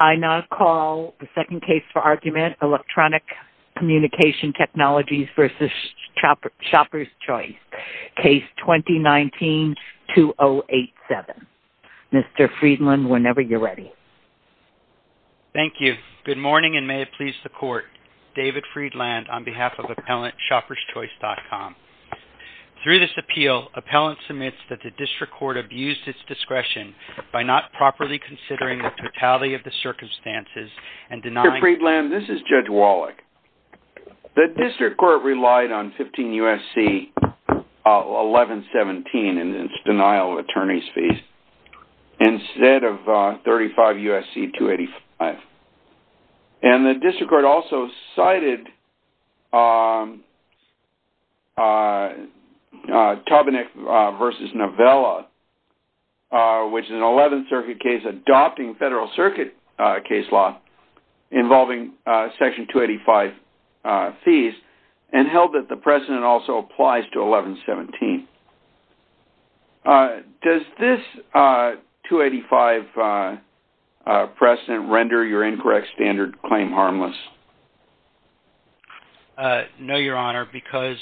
I now call the second case for argument, Electronic Communication Technologies v. ShoppersChoice, Case 2019-2087. Mr. Friedland, whenever you're ready. Thank you. Good morning, and may it please the Court. David Friedland, on behalf of Appellant, ShoppersChoice.com. Through this appeal, Appellant submits that the District Court abused its discretion by not properly considering the totality of the circumstances and denying- Mr. Friedland, this is Judge Wallach. The District Court relied on 15 U.S.C. 1117 in its denial of attorney's fees instead of 35 U.S.C. 285. And the District Court also cited Tobinick v. Novella, which is an 11th Circuit case adopting Federal Circuit case law involving Section 285 fees, and held that the precedent also applies to 1117. Does this 285 precedent render your incorrect standard claim harmless? No, Your Honor, because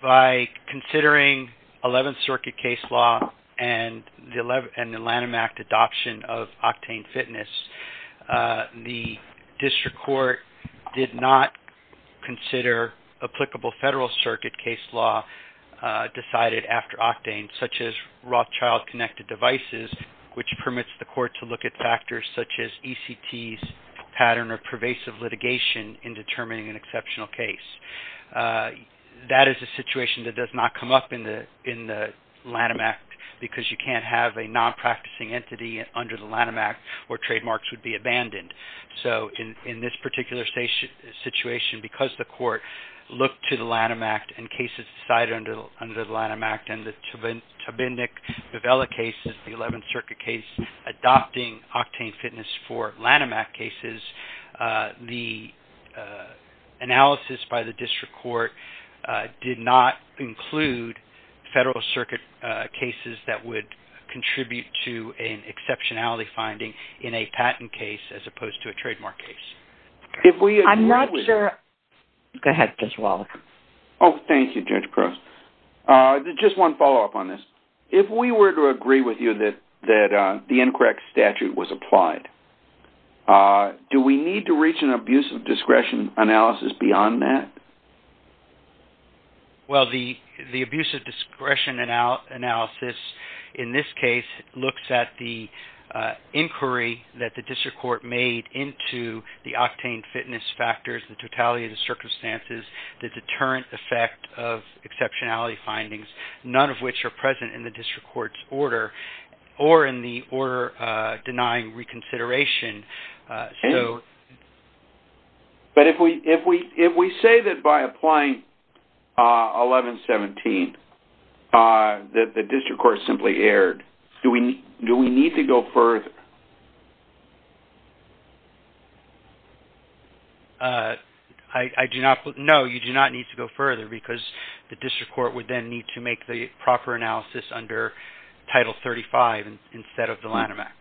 by considering 11th Circuit case law and the Lanham Act adoption of octane fitness, the District Court did not consider applicable Federal Circuit case law decided after octane, such as Rothschild connected devices, which permits the Court to look at factors such as ECT's pattern of pervasive litigation in determining an exceptional case. That is a situation that does not come up in the Lanham Act, because you can't have a non-practicing entity under the Lanham Act where trademarks would be abandoned. So in this particular situation, because the Court looked to the Lanham Act and cases decided under the Lanham Act, and the Tobinick v. Novella case is the 11th Circuit case adopting octane fitness for Lanham Act cases, the analysis by the District Court did not include Federal Circuit cases that would contribute to an exceptionality finding in a patent case as opposed to a trademark case. If we were to agree with you that the incorrect statute was applied, do we need to reach an abuse of discretion analysis beyond that? Well, the abuse of discretion analysis in this case looks at the inquiry that the District Court made into the octane fitness factors, the totality of the circumstances, the deterrent effect of exceptionality findings, none of which are present in the District Court's order or in the order denying reconsideration. But if we say that by applying 1117 that the District Court simply erred, do we need to go further? No, you do not need to go further because the District Court would then need to make the proper analysis under Title 35 instead of the Lanham Act.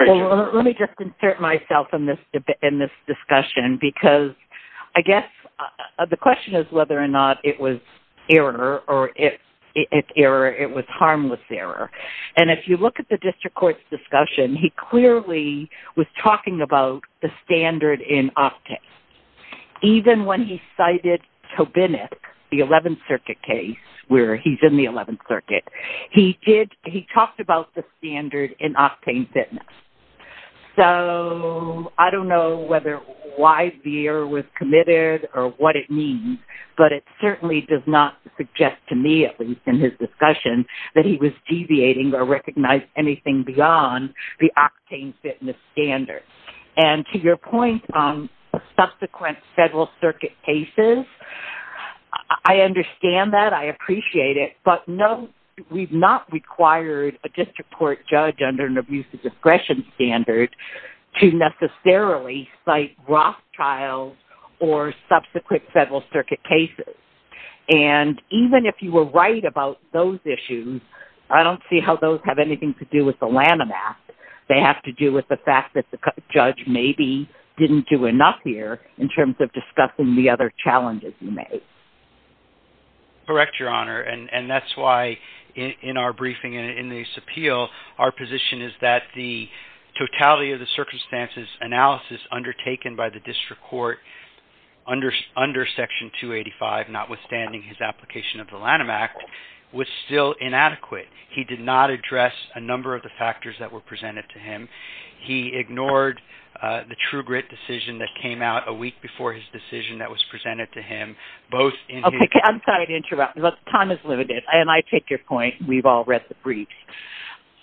Let me just insert myself in this discussion because I guess the question is whether or not it was error or if it was harmless error. And if you look at the District Court's discussion, he clearly was talking about the standard in octane. Even when he cited Tobinick, the 11th Circuit case where he's in the 11th Circuit, he talked about the standard in octane fitness. So I don't know why the error was committed or what it means, but it certainly does not suggest to me, at least in his discussion, that he was deviating or recognized anything beyond the octane fitness standard. And to your point on subsequent Federal Circuit cases, I understand that. I appreciate it. But no, we've not required a District Court judge under an abuse of discretion standard to necessarily cite Rothschild or subsequent Federal Circuit cases. And even if you were right about those issues, I don't see how those have anything to do with the Lanham Act. They have to do with the fact that the judge maybe didn't do enough here in terms of discussing the other challenges he made. Correct, Your Honor. And that's why in our briefing and in this appeal, our position is that the totality of the circumstances analysis undertaken by the District Court under Section 285, notwithstanding his application of the Lanham Act, was still inadequate. He did not address a number of the factors that were presented to him. He ignored the true grit decision that came out a week before his decision that was presented to him. Okay, I'm sorry to interrupt. Time is limited. And I take your point. We've all read the briefs.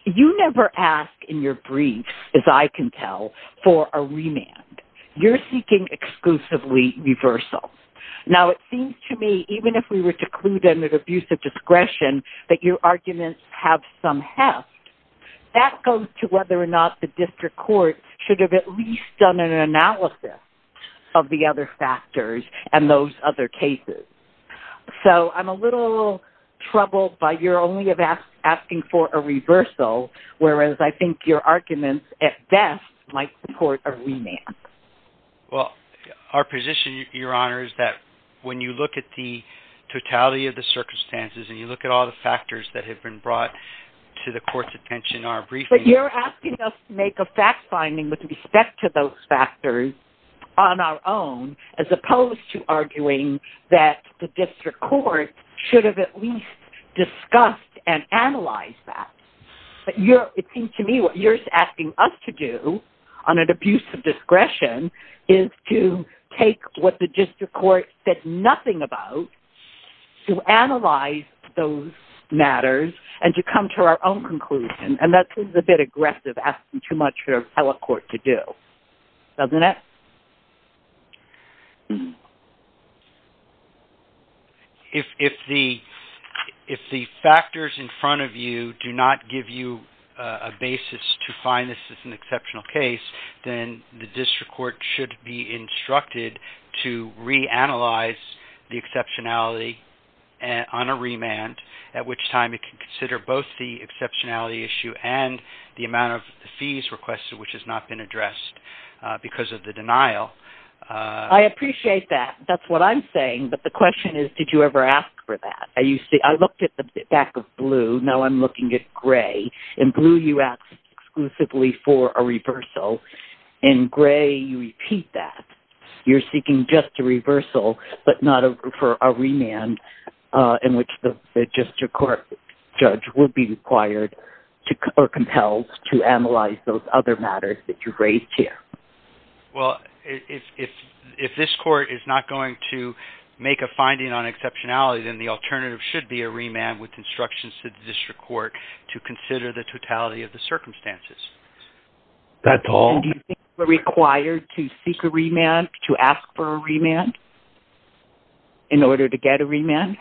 You never ask in your briefs, as I can tell, for a remand. You're seeking exclusively reversal. Now, it seems to me, even if we were to include an abuse of discretion, that your arguments have some heft. That goes to whether or not the District Court should have at least done an analysis of the other factors and those other cases. So, I'm a little troubled by your only asking for a reversal, whereas I think your arguments at best might support a remand. Well, our position, Your Honor, is that when you look at the totality of the circumstances and you look at all the factors that have been brought to the Court's attention in our briefing... But you're asking us to make a fact-finding with respect to those factors on our own, as opposed to arguing that the District Court should have at least discussed and analyzed that. But it seems to me that what you're asking us to do, on an abuse of discretion, is to take what the District Court said nothing about, to analyze those matters, and to come to our own conclusion. And that seems a bit aggressive, asking too much for the appellate court to do. Doesn't it? If the factors in front of you do not give you a basis to find this as an exceptional case, then the District Court should be instructed to reanalyze the exceptionality on a remand, at which time it can consider both the exceptionality issue and the amount of fees requested, which has not been addressed because of the denial. I appreciate that. That's what I'm saying. But the question is, did you ever ask for that? I looked at the back of blue. Now I'm looking at gray. In blue, you asked exclusively for a reversal. In gray, you repeat that. You're seeking just a reversal, but not for a remand in which the District Court judge would be required or compelled to analyze those other matters that you've raised here. Well, if this court is not going to make a finding on exceptionality, then the alternative should be a remand with instructions to the District Court to consider the totality of the circumstances. Do you think we're required to seek a remand, to ask for a remand, in order to get a remand?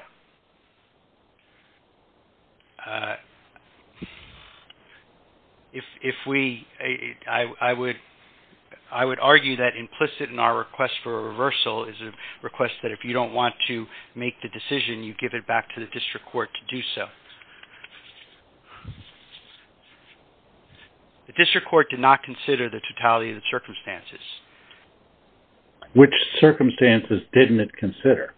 I would argue that implicit in our request for a reversal is a request that if you don't want to make the decision, you give it back to the District Court to do so. The District Court did not consider the totality of the circumstances. Which circumstances didn't it consider?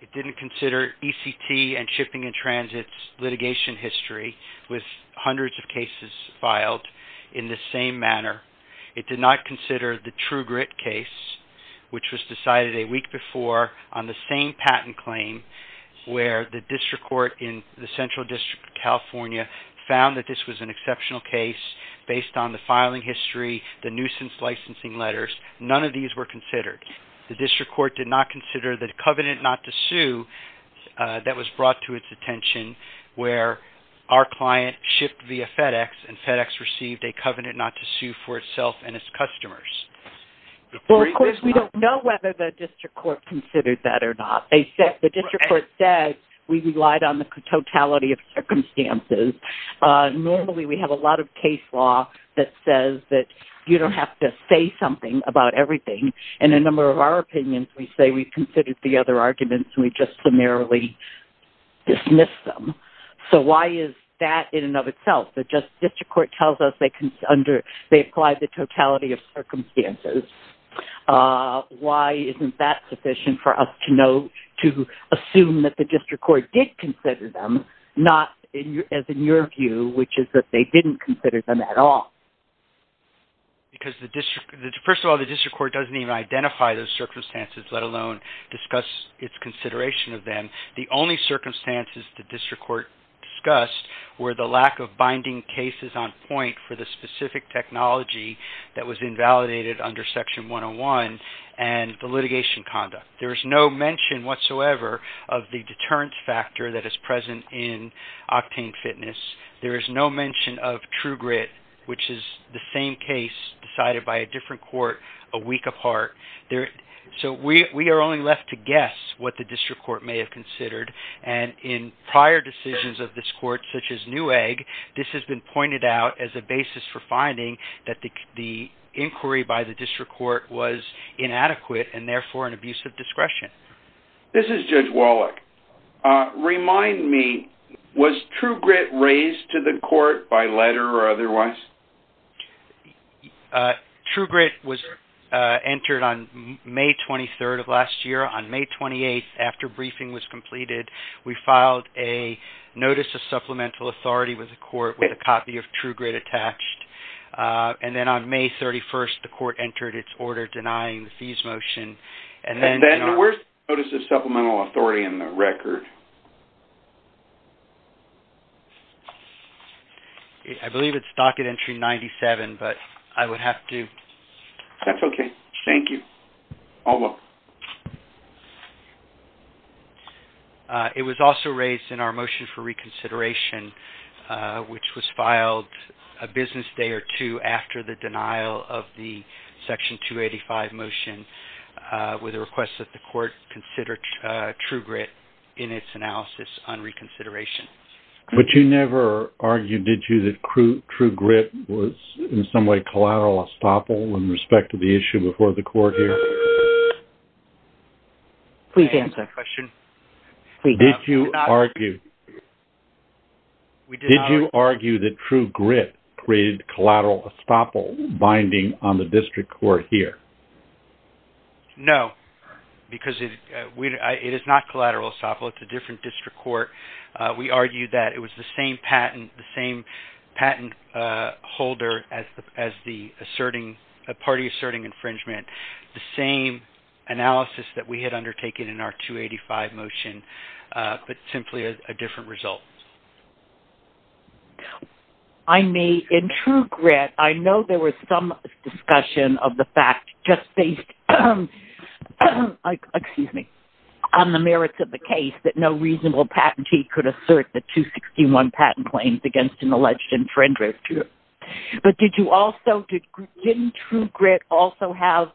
It didn't consider ECT and shipping and transit's litigation history with hundreds of cases filed in the same manner. It did not consider the TruGrit case, which was decided a week before on the same patent claim, where the District Court in the Central District of California found that this was an exceptional case based on the filing history, the nuisance licensing letters. None of these were considered. The District Court did not consider the covenant not to sue that was brought to its attention, where our client shipped via FedEx and FedEx received a covenant not to sue for itself and its customers. Of course, we don't know whether the District Court considered that or not. The District Court said we relied on the totality of circumstances. Normally, we have a lot of case law that says that you don't have to say something about everything. In a number of our opinions, we say we considered the other arguments and we just summarily dismissed them. So why is that in and of itself? The District Court tells us they applied the totality of circumstances. Why isn't that sufficient for us to assume that the District Court did consider them, not, as in your view, which is that they didn't consider them at all? First of all, the District Court doesn't even identify those circumstances, let alone discuss its consideration of them. The only circumstances the District Court discussed were the lack of binding cases on point for the specific technology that was invalidated under Section 101 and the litigation conduct. There is no mention whatsoever of the deterrence factor that is present in Octane Fitness. There is no mention of TrueGrit, which is the same case decided by a different court a week apart. So we are only left to guess what the District Court may have considered, and in prior decisions of this court, such as Newegg, this has been pointed out as a basis for finding that the inquiry by the District Court was inadequate and therefore an abuse of discretion. This is Judge Wallach. Remind me, was TrueGrit raised to the court by letter or otherwise? TrueGrit was entered on May 23rd of last year. On May 28th, after briefing was completed, we filed a Notice of Supplemental Authority with the court with a copy of TrueGrit attached. And then on May 31st, the court entered its order denying the fees motion. Where is the Notice of Supplemental Authority in the record? I believe it's docket entry 97, but I would have to... That's okay. Thank you. You're welcome. It was also raised in our motion for reconsideration, which was filed a business day or two after the denial of the Section 285 motion with a request that the court consider TrueGrit in its analysis on reconsideration. But you never argued, did you, that TrueGrit was in some way collateral estoppel in respect to the issue before the court here? Please answer the question. Did you argue... Did you argue that TrueGrit created collateral estoppel binding on the District Court here? No, because it is not collateral estoppel. It's a different District Court. We argued that it was the same patent holder as the party asserting infringement. The same analysis that we had undertaken in our 285 motion, but simply a different result. I may... In TrueGrit, I know there was some discussion of the fact just based on the merits of the case that no reasonable patentee could assert the 261 patent claims against an alleged infringer. But did you also... Didn't TrueGrit also have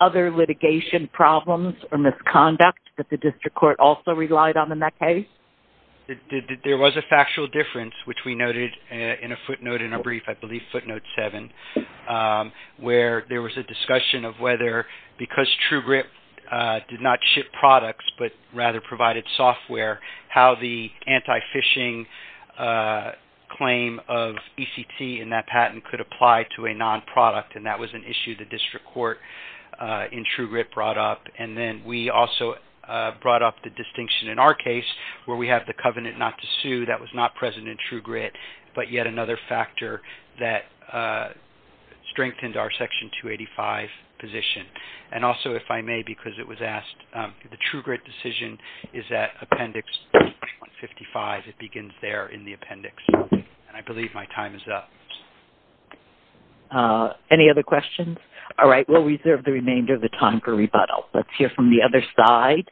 other litigation problems or misconduct that the District Court also relied on in that case? There was a factual difference, which we noted in a footnote in a brief, I believe footnote 7, where there was a discussion of whether, because TrueGrit did not ship products, but rather provided software, how the anti-phishing claim of ECT in that patent could apply to a non-product, and that was an issue the District Court in TrueGrit brought up. And then we also brought up the distinction in our case where we have the covenant not to sue. That was not present in TrueGrit, but yet another factor that strengthened our Section 285 position. And also, if I may, because it was asked, the TrueGrit decision is at Appendix 155. It begins there in the appendix, and I believe my time is up. Any other questions? All right, we'll reserve the remainder of the time for rebuttal. Let's hear from the other side.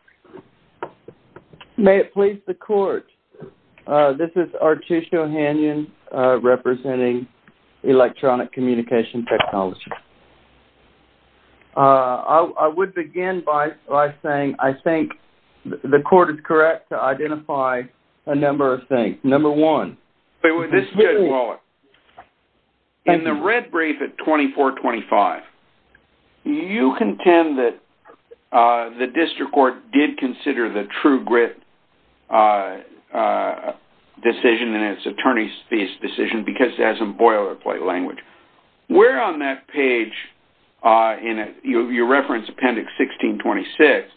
May it please the Court, this is Artish O'Hanion representing Electronic Communication Technology. I would begin by saying I think the Court is correct to identify a number of things. This is Judge Wallach. In the red brief at 2425, you contend that the District Court did consider the TrueGrit decision in its attorneys' fees decision because it has some boilerplate language. Where on that page, you referenced Appendix 1626,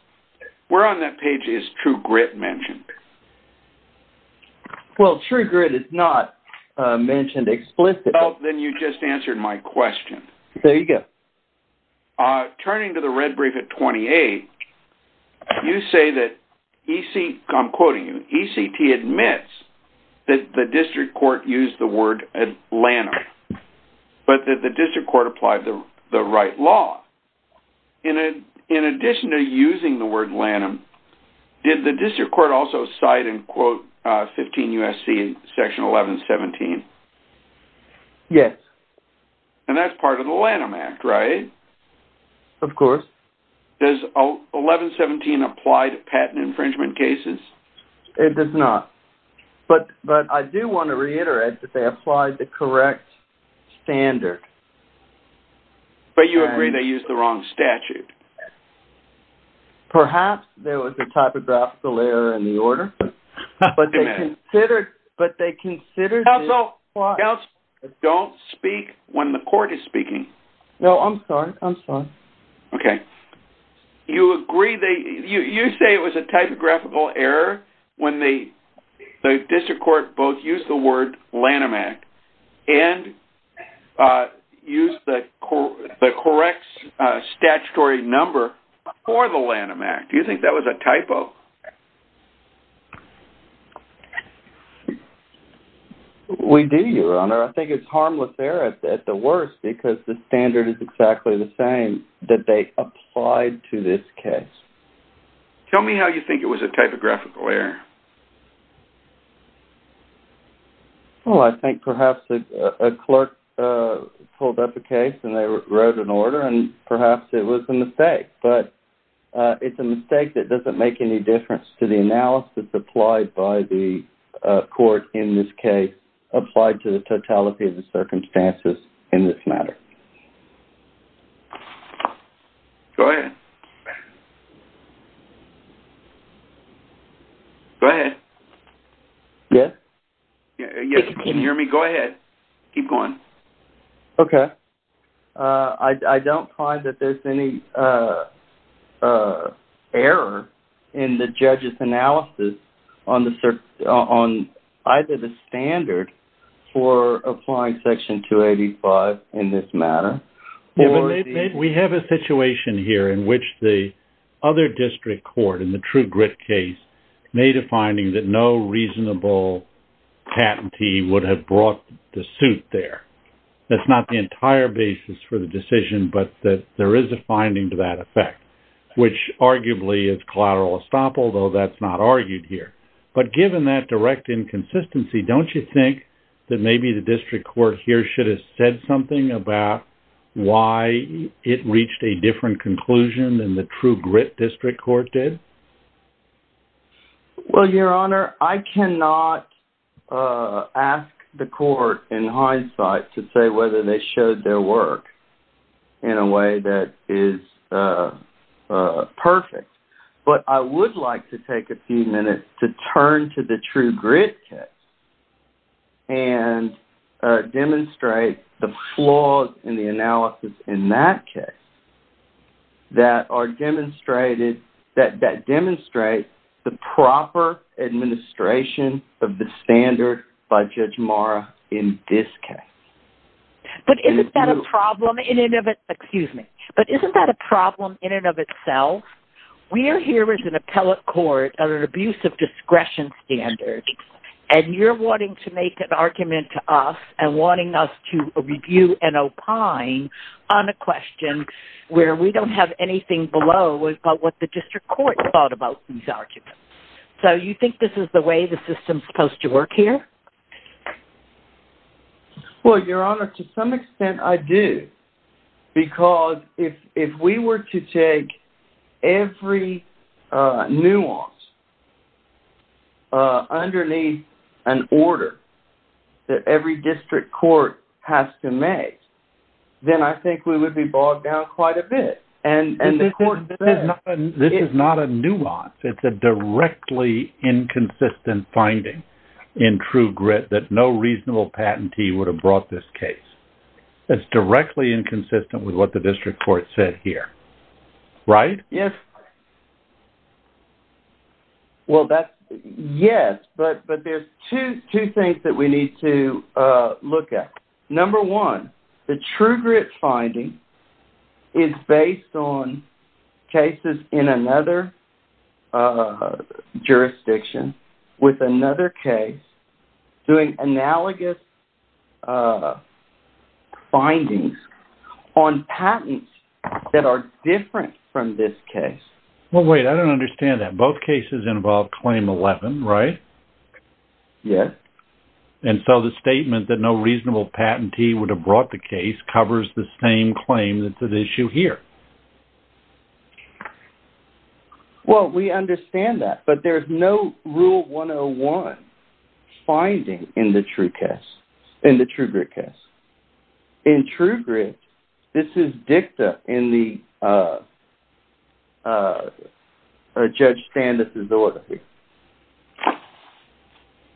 where on that page is TrueGrit mentioned? Well, TrueGrit is not mentioned explicitly. Oh, then you just answered my question. There you go. Turning to the red brief at 28, you say that, I'm quoting you, ECT admits that the District Court used the word Lanham, but that the District Court applied the right law. In addition to using the word Lanham, did the District Court also cite and quote 15 U.S.C. Section 1117? Yes. And that's part of the Lanham Act, right? Of course. Does 1117 apply to patent infringement cases? It does not. But I do want to reiterate that they applied the correct standard. But you agree they used the wrong statute. Perhaps there was a typographical error in the order, but they considered... Counsel, counsel, don't speak when the court is speaking. No, I'm sorry. I'm sorry. Okay. You agree, you say it was a typographical error when the District Court both used the word Lanham Act and used the correct statutory number for the Lanham Act. Do you think that was a typo? We do, Your Honor. I think it's harmless error at the worst because the standard is exactly the same that they applied to this case. Tell me how you think it was a typographical error. Well, I think perhaps a clerk pulled up a case and they wrote an order and perhaps it was a mistake. But it's a mistake that doesn't make any difference to the analysis applied by the court in this case applied to the totality of the circumstances in this matter. Go ahead. Go ahead. Go ahead. Yes? Yes, can you hear me? Go ahead. Keep going. Okay. I don't find that there's any error in the judge's analysis on either the standard for applying Section 285 in this matter... We have a situation here in which the other District Court in the True Grit case made a finding that no reasonable patentee would have brought the suit there. That's not the entire basis for the decision, but that there is a finding to that effect, which arguably is collateral estoppel, though that's not argued here. But given that direct inconsistency, don't you think that maybe the District Court here should have said something about why it reached a different conclusion than the True Grit District Court did? Well, Your Honor, I cannot ask the court in hindsight to say whether they showed their work in a way that is perfect. But I would like to take a few minutes to turn to the True Grit case and demonstrate the flaws in the analysis in that case that demonstrate the proper administration of the standard by Judge Marra in this case. But isn't that a problem in and of itself? We are here as an appellate court under an abuse of discretion standard, and you're wanting to make an argument to us and wanting us to review and opine on a question where we don't have anything below about what the District Court thought about these arguments. So you think this is the way the system is supposed to work here? Well, Your Honor, to some extent I do. Because if we were to take every nuance underneath an order that every District Court has to make, then I think we would be bogged down quite a bit. But this is not a nuance. It's a directly inconsistent finding in True Grit that no reasonable patentee would have brought this case. It's directly inconsistent with what the District Court said here. Right? Yes. Well, yes, but there's two things that we need to look at. Number one, the True Grit finding is based on cases in another jurisdiction with another case doing analogous findings on patents that are different from this case. Well, wait, I don't understand that. Both cases involve Claim 11, right? Yes. And so the statement that no reasonable patentee would have brought the case covers the same claim that's at issue here. Well, we understand that, but there's no Rule 101 finding in the True Grit case. In True Grit, this is dicta in the Judge Standis' order here.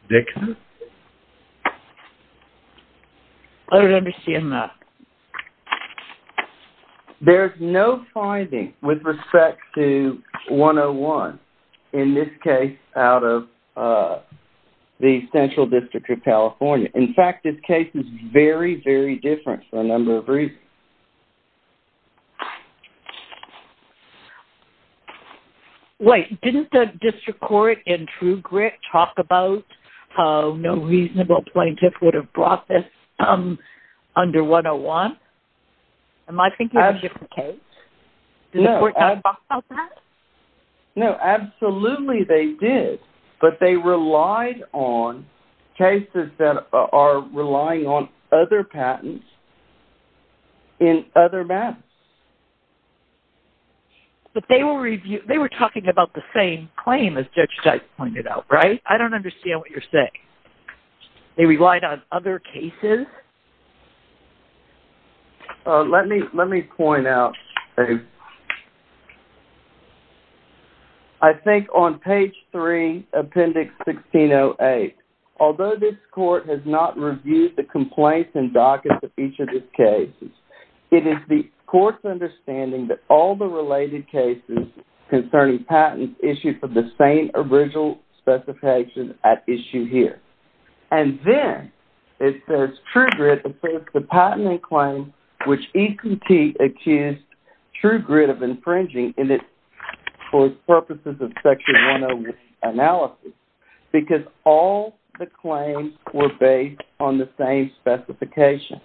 Dicta? I don't understand that. There's no finding with respect to 101 in this case out of the Central District of California. In fact, this case is very, very different for a number of reasons. Okay. Wait, didn't the District Court in True Grit talk about how no reasonable plaintiff would have brought this under 101? Am I thinking of a different case? No. Didn't the court talk about that? No, absolutely they did, but they relied on cases that are relying on other patents in other maps. But they were talking about the same claim as Judge Dykes pointed out, right? I don't understand what you're saying. They relied on other cases? Let me point out, I think on page 3, appendix 1608, although this court has not reviewed the complaints and dockets of each of these cases, it is the court's understanding that all the related cases concerning patents issued from the same original specification at issue here. And then it says, True Grit asserts the patenting claim which EQT accused True Grit of infringing for purposes of Section 101 analysis because all the claims were based on the same specification.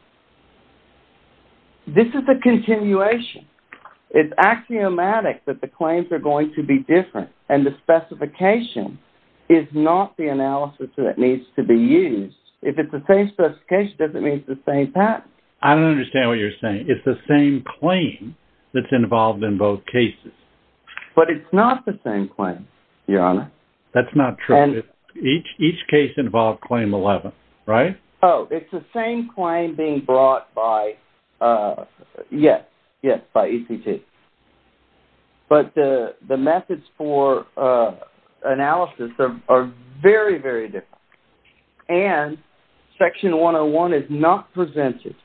This is a continuation. It's axiomatic that the claims are going to be different, and the specification is not the analysis that needs to be used. If it's the same specification, it doesn't mean it's the same patent. I don't understand what you're saying. It's the same claim that's involved in both cases. But it's not the same claim, Your Honor. That's not true. Each case involved Claim 11, right? Oh, it's the same claim being brought by, yes, yes, by EQT. But the methods for analysis are very, very different. And Section 101 is not presented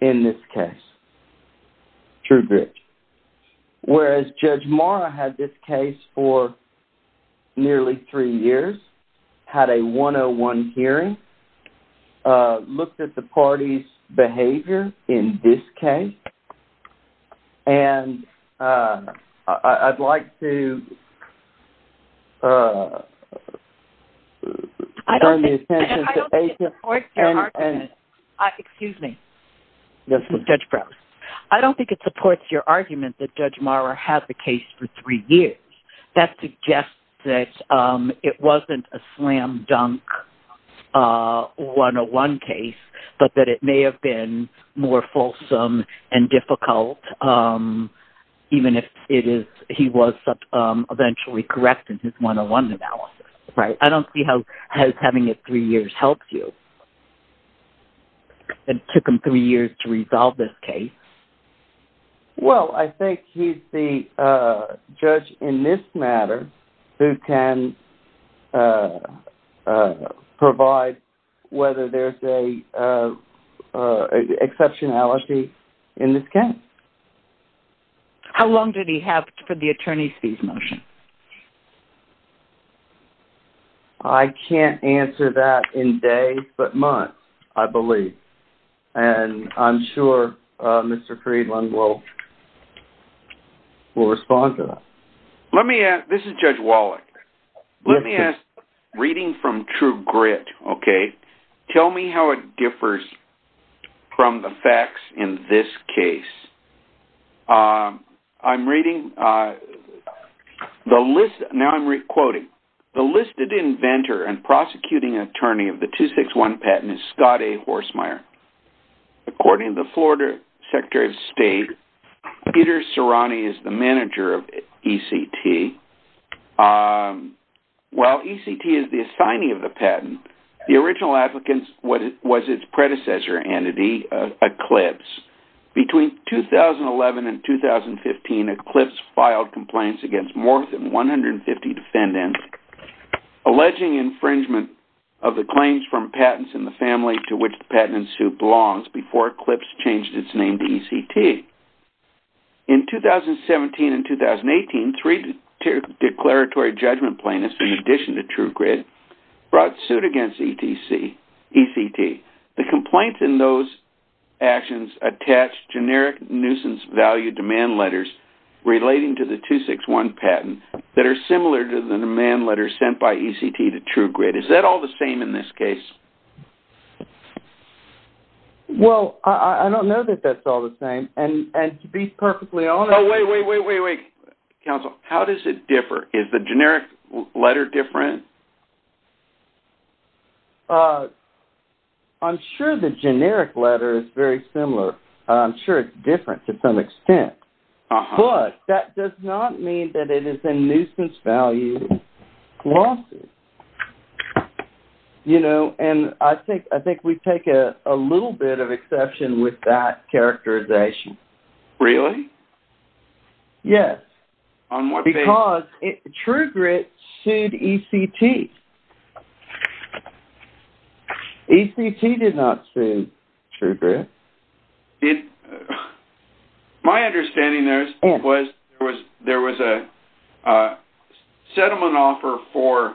in this case, True Grit. Whereas Judge Mora had this case for nearly three years, had a 101 hearing, looked at the parties' behavior in this case. And I'd like to turn the attention to… I don't think it supports your argument. Excuse me. Yes, Judge Brown. I don't think it supports your argument that Judge Mora had the case for three years. That suggests that it wasn't a slam-dunk 101 case, but that it may have been more fulsome and difficult, even if he was eventually correct in his 101 analysis, right? I don't see how having it three years helps you. It took him three years to resolve this case. Well, I think he's the judge in this matter who can provide whether there's an exceptionality in this case. How long did he have for the attorney's fees motion? I can't answer that in days, but months, I believe. And I'm sure Mr. Friedland will respond to that. Let me ask… This is Judge Wallach. Let me ask, reading from True Grit, okay, tell me how it differs from the facts in this case. I'm reading… Now I'm quoting. The listed inventor and prosecuting attorney of the 261 patent is Scott A. Horsmeyer. According to the Florida Secretary of State, Peter Cerani is the manager of ECT. While ECT is the assignee of the patent, the original applicant was its predecessor entity, Eclipse. Between 2011 and 2015, Eclipse filed complaints against more than 150 defendants, alleging infringement of the claims from patents in the family to which the patent suit belongs before Eclipse changed its name to ECT. In 2017 and 2018, three declaratory judgment plaintiffs, in addition to True Grit, brought suit against ECT. The complaints in those actions attached generic nuisance value demand letters relating to the 261 patent that are similar to the demand letters sent by ECT to True Grit. Is that all the same in this case? Well, I don't know that that's all the same, and to be perfectly honest… Oh, wait, wait, wait, wait, wait. Counsel, how does it differ? Is the generic letter different? I'm sure the generic letter is very similar. I'm sure it's different to some extent. But that does not mean that it is a nuisance value lawsuit. You know, and I think we take a little bit of exception with that characterization. Really? Yes. On what basis? Because True Grit sued ECT. ECT did not sue True Grit. My understanding was there was a settlement offer for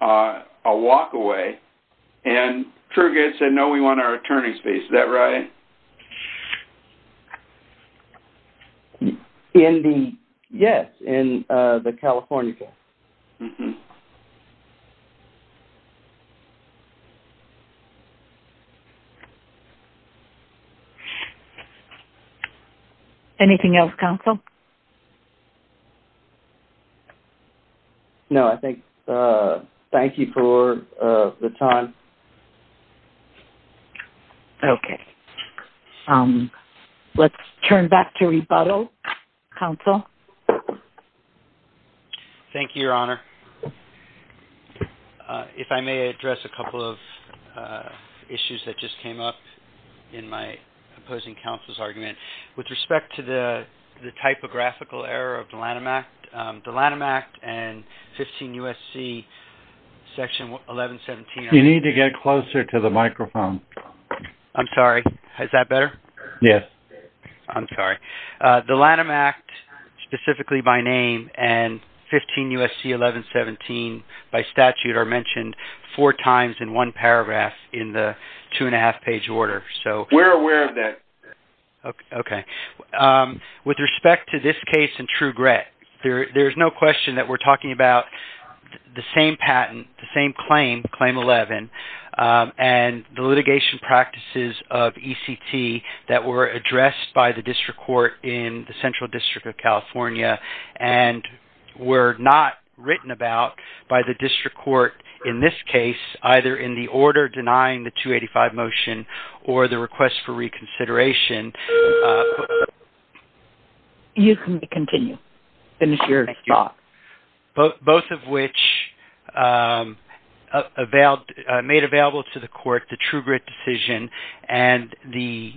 a walk-away, and True Grit said, no, we want our attorney's fees. Is that right? Yes, in the California case. Anything else, Counsel? No, I think, thank you for the time. Okay. Let's turn back to rebuttal. Counsel? Thank you, Your Honor. If I may address a couple of issues that just came up in my opposing counsel's argument. With respect to the typographical error of the Lanham Act, the Lanham Act and 15 U.S.C. section 1117… You need to get closer to the microphone. I'm sorry. Is that better? Yes. I'm sorry. The Lanham Act, specifically by name, and 15 U.S.C. 1117 by statute are mentioned four times in one paragraph in the two-and-a-half page order. We're aware of that. Okay. With respect to this case and True Grit, there's no question that we're talking about the same patent, the same claim, Claim 11, and the litigation practices of ECT that were addressed by the District Court in the Central District of California and were not written about by the District Court in this case, either in the order denying the 285 motion or the request for reconsideration. You can continue. Finish your thought. Both of which made available to the court the True Grit decision and the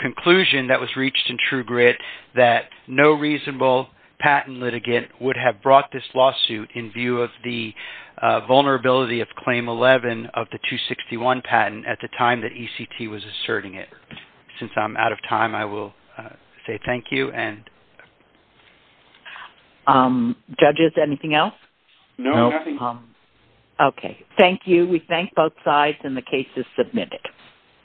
conclusion that was reached in True Grit that no reasonable patent litigant would have brought this lawsuit in view of the vulnerability of Claim 11 of the 261 patent at the time that ECT was asserting it. Since I'm out of time, I will say thank you. Judges, anything else? No, nothing. Okay. Thank you. We thank both sides and the case is submitted.